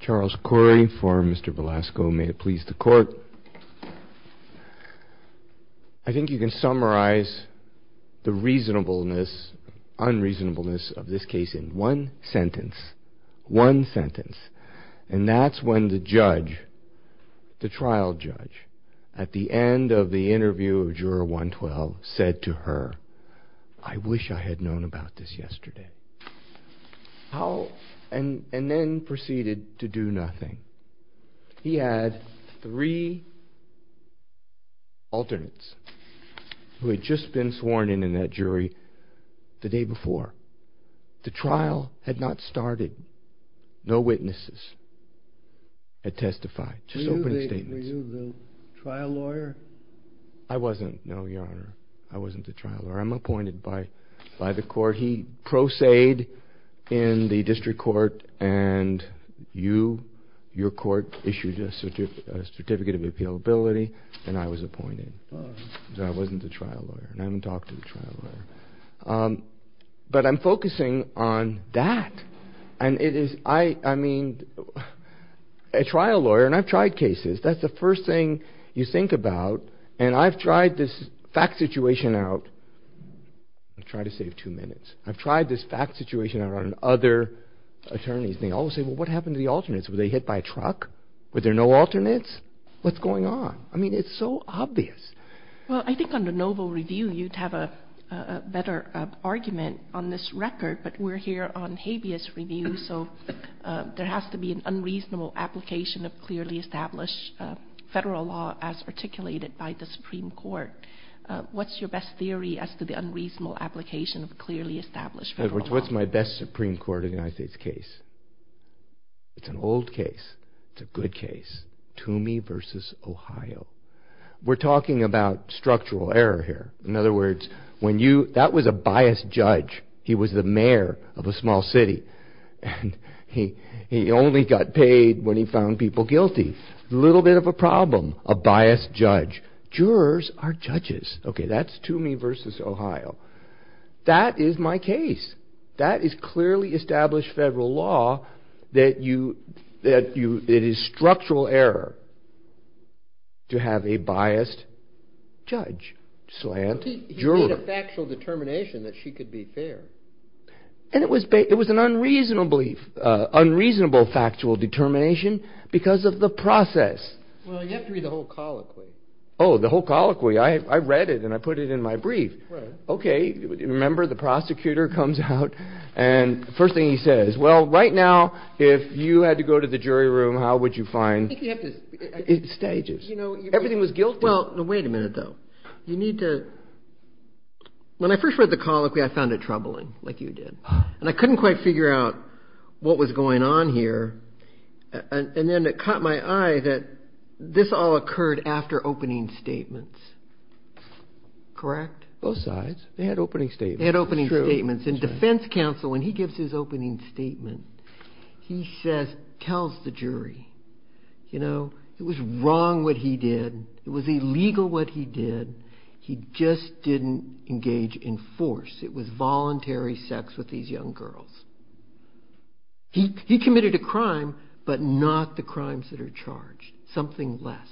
Charles Corey for mr. Velasco may it please the court I think you can summarize the reasonableness unreasonableness of this case in one sentence one sentence and that's when the judge the trial judge at the end of the interview of juror 112 said to her I wish I had known about this yesterday how and and then proceeded to do nothing he had three alternates who had just been sworn in in that jury the day before the trial had not started no witnesses had testified to the trial lawyer I wasn't no your honor I wasn't the trial or I'm appointed by by the court he proceed in the district court and you your court issued a certificate of appeal ability and I was appointed I wasn't a trial lawyer and I haven't talked to the trial lawyer but I'm focusing on that and it is I I mean a trial lawyer and I've tried cases that's the first thing you think about and I've tried this fact situation out I've tried to save two minutes I've tried this fact situation around other attorneys they all say well what happened to the alternates were they hit by a truck were there no alternates what's going on I mean it's so obvious well I think on the novel review you'd have a better argument on this record but we're here on habeas review so there has to be an unreasonable application of clearly established federal law as articulated by the Supreme Court what's your best theory as to the unreasonable application of clearly established Edwards what's my best Supreme Court of the United States case it's an old case it's a good case to me versus Ohio we're talking about structural error here in other words when you that was a biased judge he was the mayor of a small city and he he only got paid when he found people guilty little bit of a problem a biased judge jurors are judges okay that's to me versus Ohio that is my case that is clearly established federal law that you that you it is structural error to have a biased judge slant juror actual determination that she could be and it was it was an unreasonable unreasonable factual determination because of the process Oh the whole colloquy I read it and I put it in my brief okay remember the prosecutor comes out and first thing he says well right now if you had to go to the jury room how would you find stages you know everything was guilt well wait a minute though you need to when I first read the case it was very troubling like you did and I couldn't quite figure out what was going on here and then it caught my eye that this all occurred after opening statements correct both sides they had opening state had opening statements in defense counsel when he gives his opening statement he says tells the jury you know it was wrong what he did it was illegal what he did he just didn't engage in force it was voluntary sex with these young girls he he committed a crime but not the crimes that are charged something less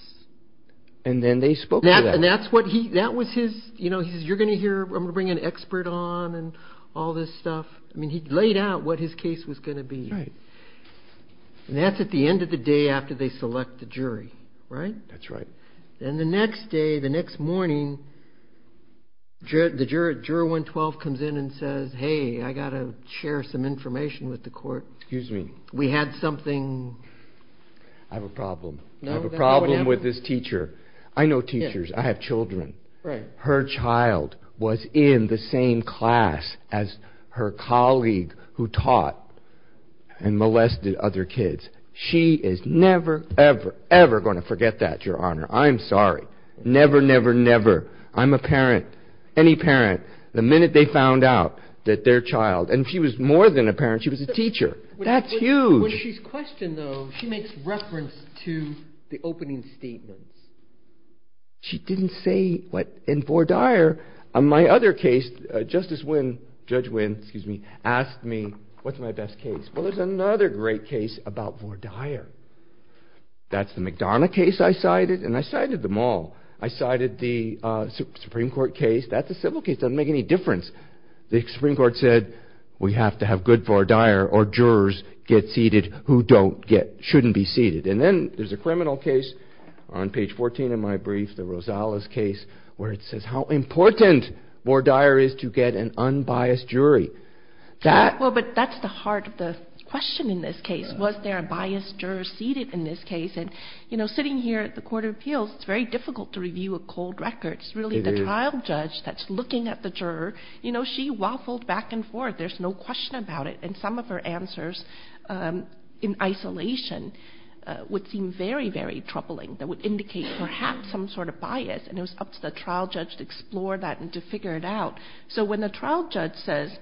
and then they spoke and that's what he that was his you know he says you're gonna hear I'm gonna bring an expert on and all this stuff I mean he laid out what his case was going to be right and that's at the end of the day after they select the jury right that's right and the next day the next morning the juror 112 comes in and says hey I gotta share some information with the court excuse me we had something I have a problem no problem with this teacher I know teachers I have children right her child was in the same class as her colleague who taught and molested other kids she is never ever ever going to forget that your honor I'm sorry never never never I'm a parent any parent the minute they found out that their child and she was more than a parent she was a teacher that's huge she makes reference to the opening statement she didn't say what in for dire on my other case justice when judge wins me asked me what's my best case was another great case about more dire that's the McDonough case I cited and I cited them all I cited the Supreme Court case that's a civil case I make any difference the Supreme Court said we have to have good for dire or jurors get seated who don't get shouldn't be seated and then there's a criminal case on page 14 of my brief the Rosales case where it says how important more dire is to get an was there a biased juror seated in this case and you know sitting here at the Court of Appeals it's very difficult to review a cold records really the trial judge that's looking at the juror you know she waffled back and forth there's no question about it and some of her answers in isolation would seem very very troubling that would indicate perhaps some sort of bias and it was up to the trial judge to explore that and to figure it out so when the trial judge says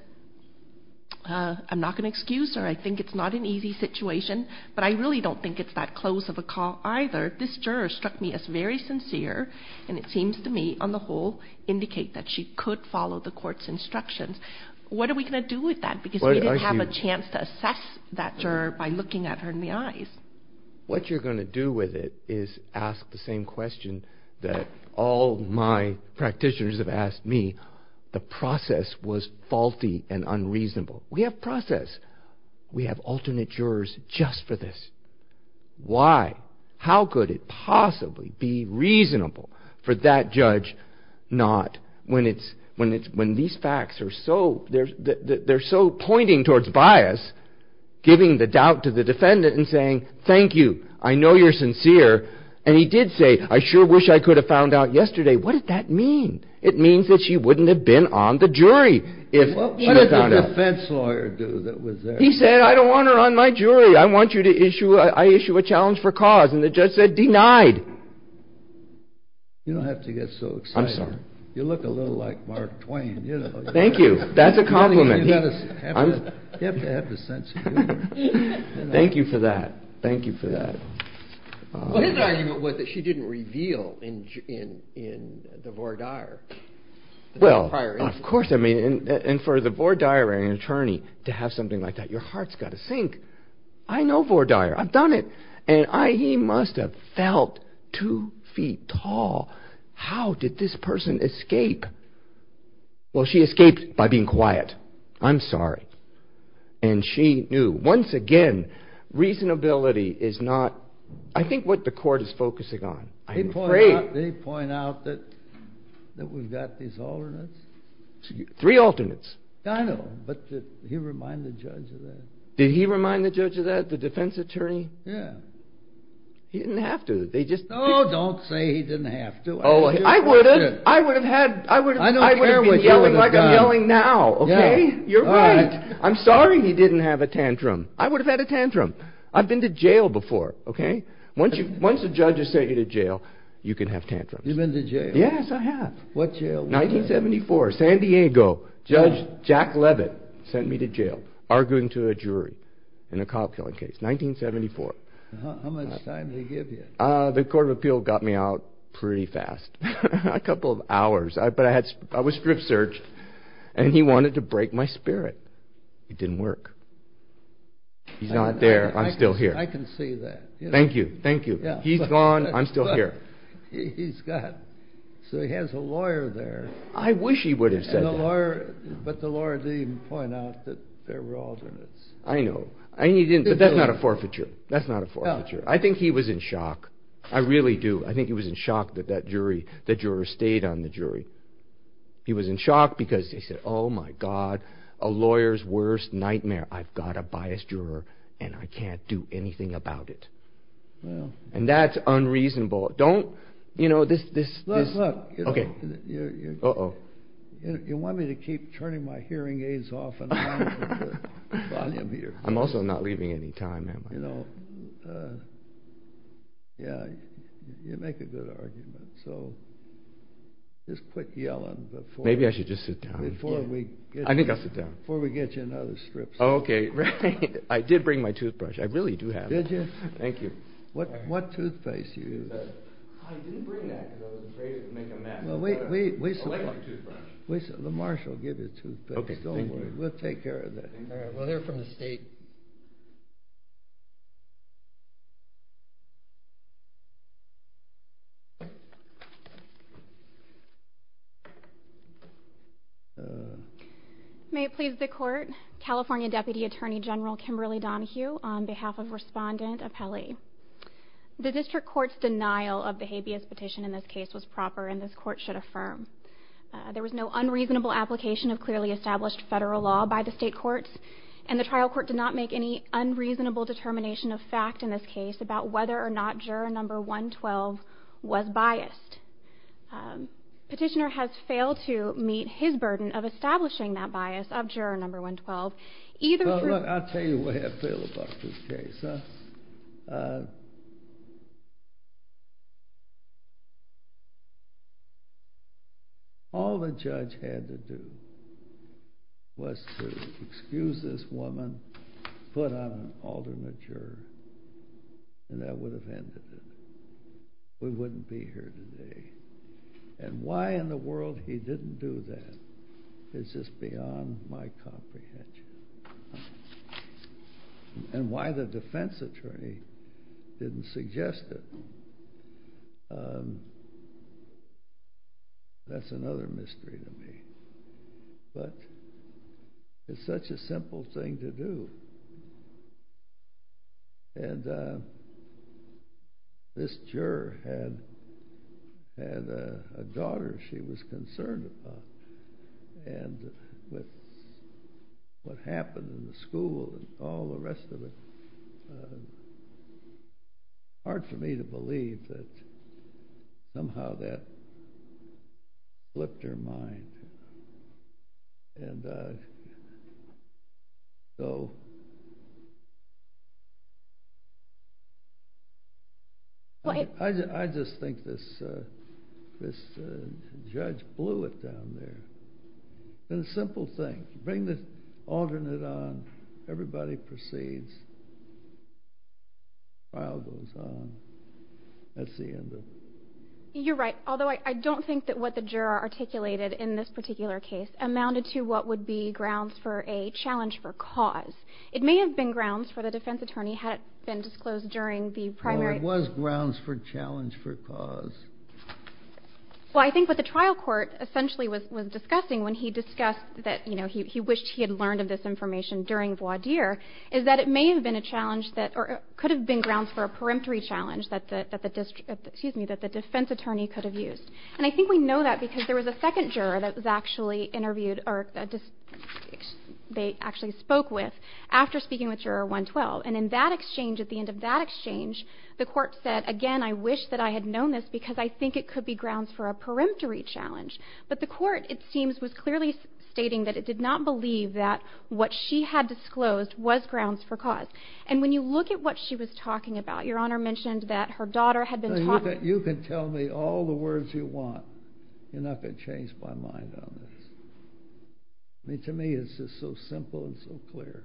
I'm not going to excuse her I think it's not an easy situation but I really don't think it's that close of a call either this juror struck me as very sincere and it seems to me on the whole indicate that she could follow the court's instructions what are we going to do with that because I didn't have a chance to assess that juror by looking at her in the eyes what you're going to do with it is ask the same question that all my practitioners have asked me the process was faulty and unreasonable we have process we have alternate jurors just for this why how could it possibly be reasonable for that judge not when it's when it's when these facts are so there's that they're so pointing towards bias giving the doubt to the defendant and saying thank you I know you're sincere and he did say I sure wish I could have found out yesterday what did mean it means that she wouldn't have been on the jury if he said I don't want her on my jury I want you to issue I issue a challenge for cause and the judge said denied you don't have to get so excited you look a little like Mark Twain you know thank you that's a compliment thank you for that thank you that she didn't reveal in in in the Vordaer well of course I mean and for the Vordaer an attorney to have something like that your heart's got to sink I know Vordaer I've done it and I he must have felt two feet tall how did this person escape well she escaped by being quiet I'm sorry and she knew once again reasonability is not I think what the court is focusing on I'm afraid they point out that that we've got these alternates three alternates I know but did he remind the judge of that did he remind the judge of that the defense attorney yeah he didn't have to they just oh don't say he didn't have to oh I wouldn't I would have had I would I don't care what yelling like I'm yelling now okay you're right I'm sorry he didn't have a tantrum I would have had a tantrum I've been to jail before okay once you once the judges sent you to jail you can have tantrums you've been to jail yes I have what you 1974 San Diego judge Jack Leavitt sent me to jail arguing to a jury in a cop-killing case 1974 the Court of Appeal got me out pretty fast a couple of hours I but I was strip-searched and he wanted to break my spirit it didn't work he's not there I'm still here I can see that thank you thank you yeah he's gone I'm still here he's got so he has a lawyer there I wish he would have said the lawyer but the lawyer didn't point out that there were alternates I know I need in but that's not a forfeiture that's not a forfeiture I think he was in shock I really do I think he was in shock that that jury that juror stayed on the jury he was in shock because they said oh my god a lawyer's worst nightmare I've got a biased juror and I can't do anything about it well and that's unreasonable don't you know this this okay oh you want me to keep turning my hearing aids off I'm also not leaving any time you know yeah you make a good argument so just quit yelling before maybe I should just sit down before we I think I'll sit down before we get you another strip okay I did bring my toothbrush I really do have it yes thank you what what toothpaste you make a mess wait wait wait the marshal give it to okay don't worry we'll take care of that well they're from the state may it please the court California Deputy Attorney General Kimberly Donahue on behalf of respondent of Kelly the district courts denial of the habeas petition in this case was proper in this court should affirm there was no unreasonable application of clearly established federal law by the state courts and the trial court did not make any unreasonable determination of fact in this case about whether or not juror number 112 was biased petitioner has failed to meet his burden of establishing that bias of juror number 112 either I'll tell you what I feel about this case all the judge had to do was to excuse this woman put on an alternate juror and that would have ended it we wouldn't be here today and why in the world he attorney didn't suggest it that's another mystery to me but it's such a simple thing to do and this juror had had a daughter she was concerned about and what happened in the school and all the rest of it hard for me to believe that somehow that flipped her mind and so I just think this this judge blew it down there in a simple thing bring this alternate on everybody proceeds I'll go that's the end of you're right although I don't think that what the juror articulated in this particular case amounted to what would be grounds for a challenge for cause it may have been grounds for the defense attorney had been disclosed during the primary was grounds for challenge for cause well I think what the trial court essentially was was discussing when he discussed that you know he wished he had learned of this information during voir dire is that it may have been a challenge that or could have been grounds for a peremptory challenge that the that the district excuse me that the defense attorney could have used and I think we know that because there was a second juror that was actually interviewed or they actually spoke with after speaking with your 112 and in that exchange at the end of that exchange the court said again I wish that I had known this because I think it could be grounds for a peremptory challenge but the court it seems was clearly stating that it did not believe that what she had disclosed was grounds for cause and when you look at what she was talking about your honor mentioned that her daughter had been taught that you could tell me all the words you want you're not going to change my mind on this I mean to me it's just so simple and so clear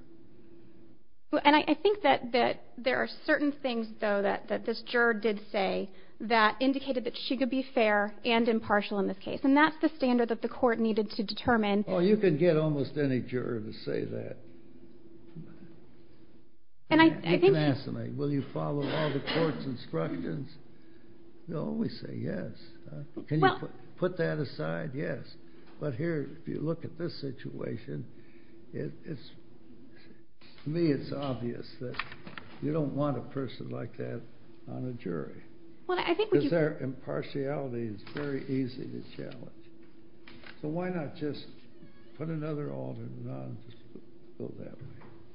and I think that that there are certain things though that that this juror did say that indicated that she could be fair and impartial in this case and that's the standard that the court needed to instructions no we say yes can you put that aside yes but here if you look at this situation it's me it's obvious that you don't want a person like that on a jury well I think we use our impartiality it's very easy to challenge so why not just put another all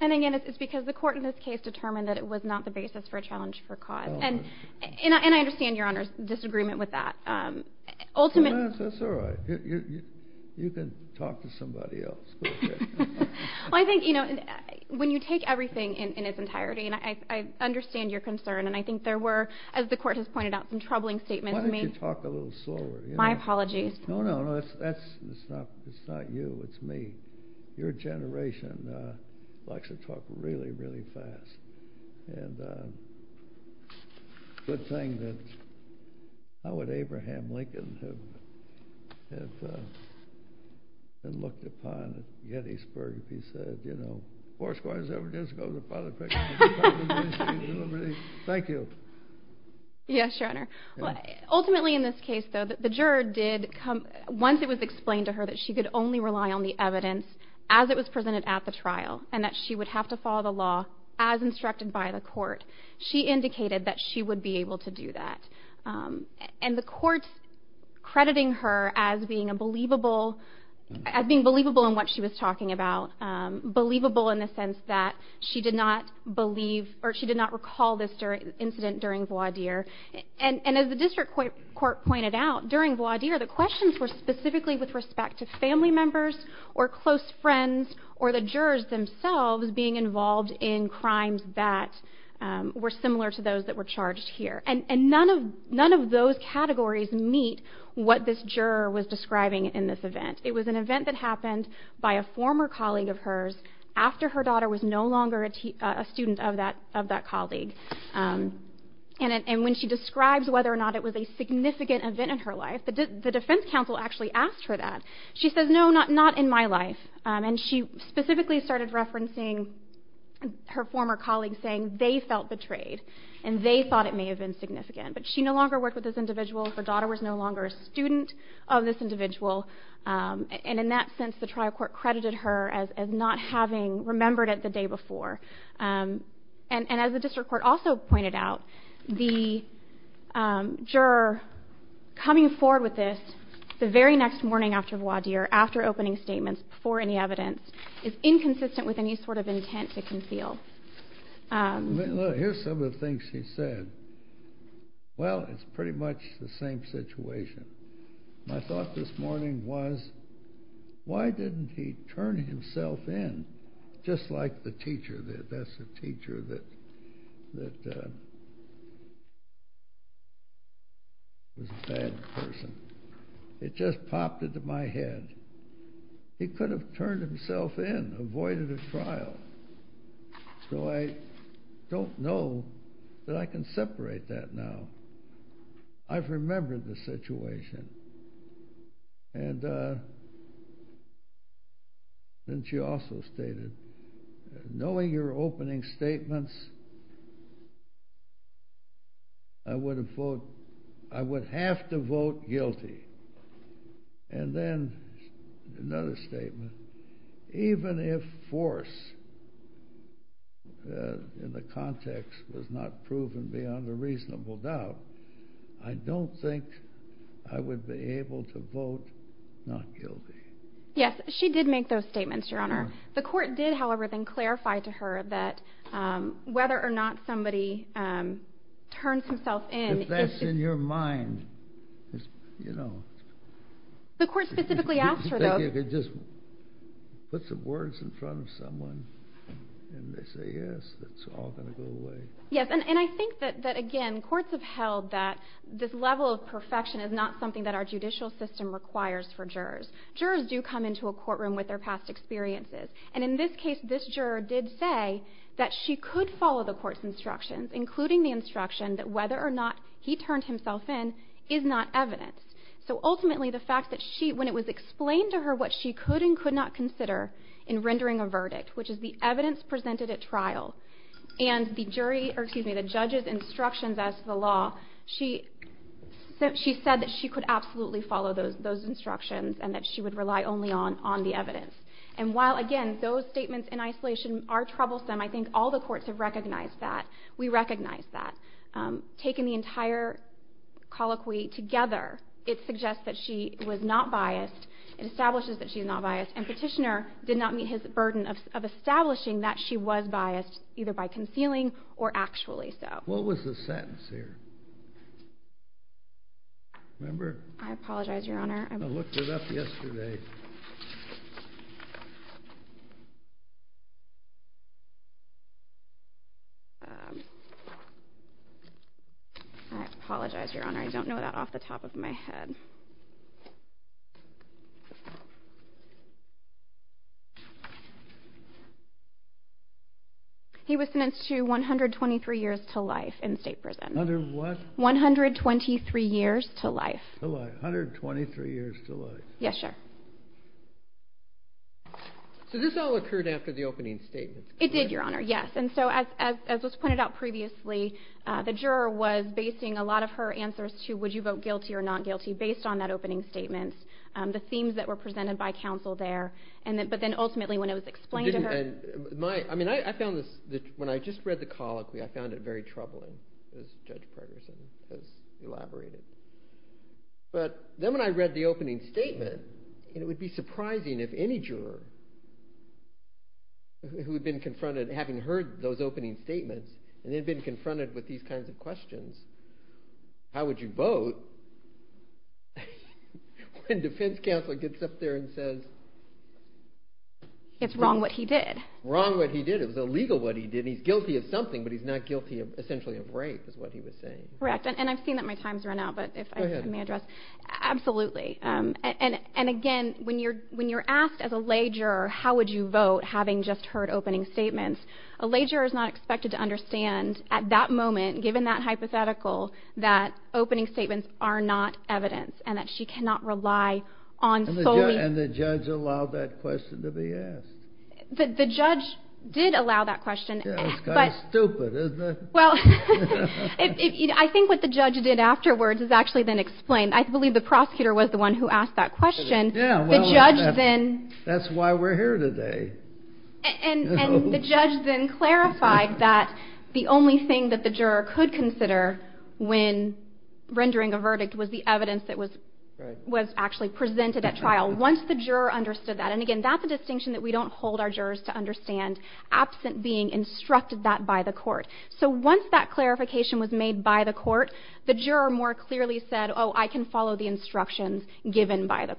and again it's because the court in this case determined that it was not the basis for a challenge for cause and and I understand your honors disagreement with that ultimate you can talk to somebody else I think you know when you take everything in its entirety and I understand your concern and I think there were as the court has pointed out some troubling statements me talk a little slower my apologies no no no that's it's not it's not you it's me your generation likes to talk really really fast and good thing that I would Abraham Lincoln have and looked upon Gettysburg he said you know course was ever just go to the public thank you yes your honor well ultimately in this case though that the juror did come once it was explained to her that she could only rely on the evidence as it was to follow the law as instructed by the court she indicated that she would be able to do that and the court crediting her as being a believable as being believable in what she was talking about believable in the sense that she did not believe or she did not recall this during the incident during voir dire and and as the district court court pointed out during voir dire the questions were specifically with respect to family members or close friends or the jurors themselves being involved in crimes that were similar to those that were charged here and and none of none of those categories meet what this juror was describing in this event it was an event that happened by a former colleague of hers after her daughter was no longer a student of that of that colleague and when she describes whether or not it was a significant event in her life but the defense counsel actually asked her that she says no not not in my life and she specifically started referencing her former colleague saying they felt betrayed and they thought it may have been significant but she no longer worked with this individual her daughter was no longer a student of this individual and in that sense the trial court credited her as not having remembered it the day before and and as the district court also pointed out the juror coming forward with this the very next morning after voir dire after opening statements before any evidence is inconsistent with any sort of intent to conceal here's some of the things she said well it's pretty much the same situation my thought this morning was why didn't he turn himself in just like the teacher that that's a teacher that it just popped into my head he could have turned himself in avoided a trial so I don't know that I can separate that now I've remembered the situation and then she also stated knowing your opening statements I would have vote I would have to vote guilty and then another I don't think I would be able to vote not guilty yes she did make those statements your honor the court did however then clarify to her that whether or not somebody turns himself in that's in your mind you know the court specifically asked her though it just puts the words in front of someone yes and I think that that again courts have held that this level of perfection is not something that our judicial system requires for jurors jurors do come into a courtroom with their past experiences and in this case this juror did say that she could follow the court's instructions including the instruction that whether or not he turned himself in is not evidence so ultimately the fact that she when it was explained to her what she could and could not consider in the judges instructions as the law she said that she could absolutely follow those those instructions and that she would rely only on on the evidence and while again those statements in isolation are troublesome I think all the courts have recognized that we recognize that taking the entire colloquy together it suggests that she was not biased it establishes that she is not biased and petitioner did not meet his burden of establishing that she was biased either by concealing or actually so what was the sentence here remember I apologize your honor I looked it up yesterday I apologize your honor I don't know that off the top of my head he was sentenced to 123 years to life in state prison under what 123 years to life 123 years to life yes sir so this all occurred after the opening statement it did your honor yes and so as was pointed out previously the juror was basing a lot of her answers to would you vote guilty or not guilty based on that opening statement the themes that were presented by counsel there and then ultimately when I was explained to her my I mean I found this when I just read the colloquy I found it very troubling as Judge Pregerson has elaborated but then when I read the opening statement it would be surprising if any juror who had been confronted having heard those opening statements and they've been confronted with these kinds of questions how would you vote when defense counselor gets up there and says it's wrong what he did wrong what he did it was illegal what he did he's guilty of something but he's not guilty of essentially of rape is what he was saying correct and I've seen that my times run out but if I may address absolutely and and again when you're when you're asked as a lager how would you vote having just heard opening statements a lager is not expected to understand at that moment given that hypothetical that opening statements are not evidence and that she cannot rely on solely and the judge allowed that question to be asked the judge did allow that question well I think what the judge did afterwards is actually then explained I believe the prosecutor was the one who asked that question yeah judge then that's why we're here today and the judge then clarified that the only thing that the juror could consider when rendering a verdict was the evidence that was was actually presented at trial once the juror understood that and again that's a distinction that we don't hold our jurors to understand absent being instructed that by the court so once that clarification was made by the court the juror more clearly said oh I can follow the instructions given by the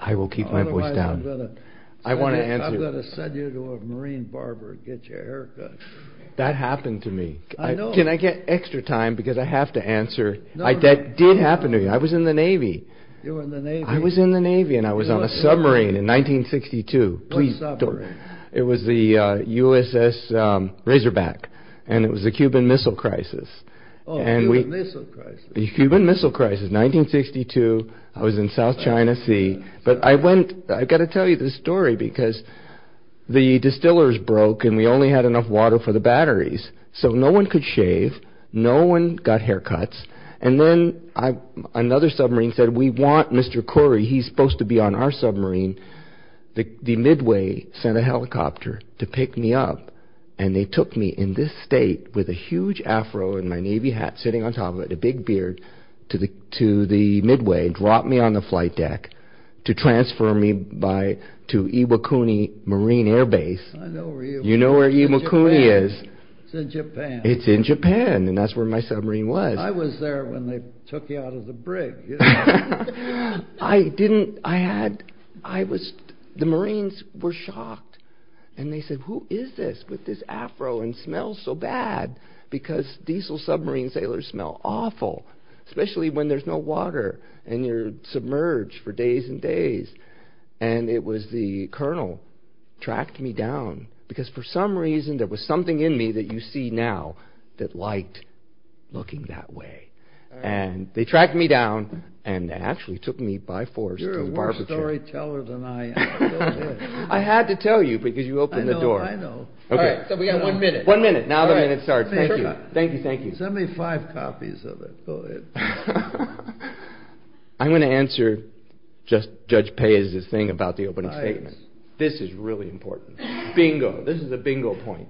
I will keep my voice down I want to send you to a marine barber get your haircut that happened to me I know can I get extra time because I have to answer like that did happen to you I was in the Navy I was in the Navy and I was on a submarine in 1962 please don't worry it was the USS Razorback and it was the Cuban Missile Crisis and we the Cuban Missile Crisis 1962 I was in South China Sea but I went I've got to tell you this story because the distillers broke and we only had enough water for the batteries so no one could shave no one got haircuts and then I another submarine said we want mr. Corey he's to be on our submarine the Midway sent a helicopter to pick me up and they took me in this state with a huge afro and my Navy hat sitting on top of it a big beard to the to the Midway dropped me on the flight deck to transfer me by to Iwakuni Marine Air Base you know where Iwakuni is it's in Japan and that's where my submarine was I was there when they took you out of the brig I didn't I had I was the Marines were shocked and they said who is this with this afro and smells so bad because diesel submarine sailors smell awful especially when there's no water and you're submerged for days and days and it was the colonel tracked me down because for some reason there was something in me that you see now that liked looking that way and they tracked me down and actually took me by force to the barbershop. You're a worse storyteller than I am. I had to tell you because you opened the door. I know, I know. Okay. So we got one minute. One minute now the minute starts. Thank you, thank you, thank you. Send me five copies of it. Go ahead. I'm gonna answer just Judge Pei's thing about the opening statement. This is really important. Bingo. This is a bingo point.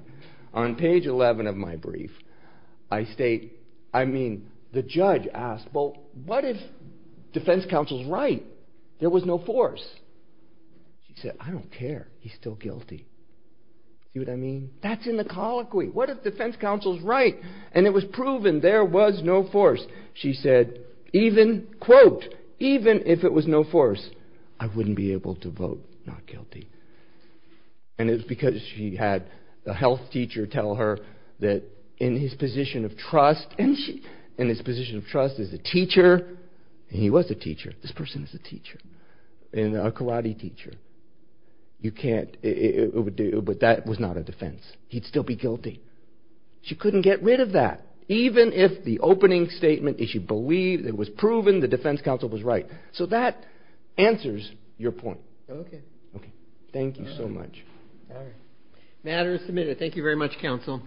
On page 11 of my brief I state I mean the judge asked well what if defense counsel's right. There was no force. She said I don't care. He's still guilty. See what I mean? That's in the colloquy. What if defense counsel's right and it was proven there was no force. She said even quote even if it was no force I wouldn't be able to vote not guilty. And it's because she had a health teacher tell her that in his position of trust and she in his position of trust is a teacher and he was a teacher. This person is a teacher and a karate teacher. You can't it would do but that was not a defense. He'd still be guilty. She couldn't get rid of that even if the opening statement is she believed it was proven the defense counsel was right. So that answers your point. Okay. Okay. Thank you so much. All right. Matter is submitted. Thank you very much counsel.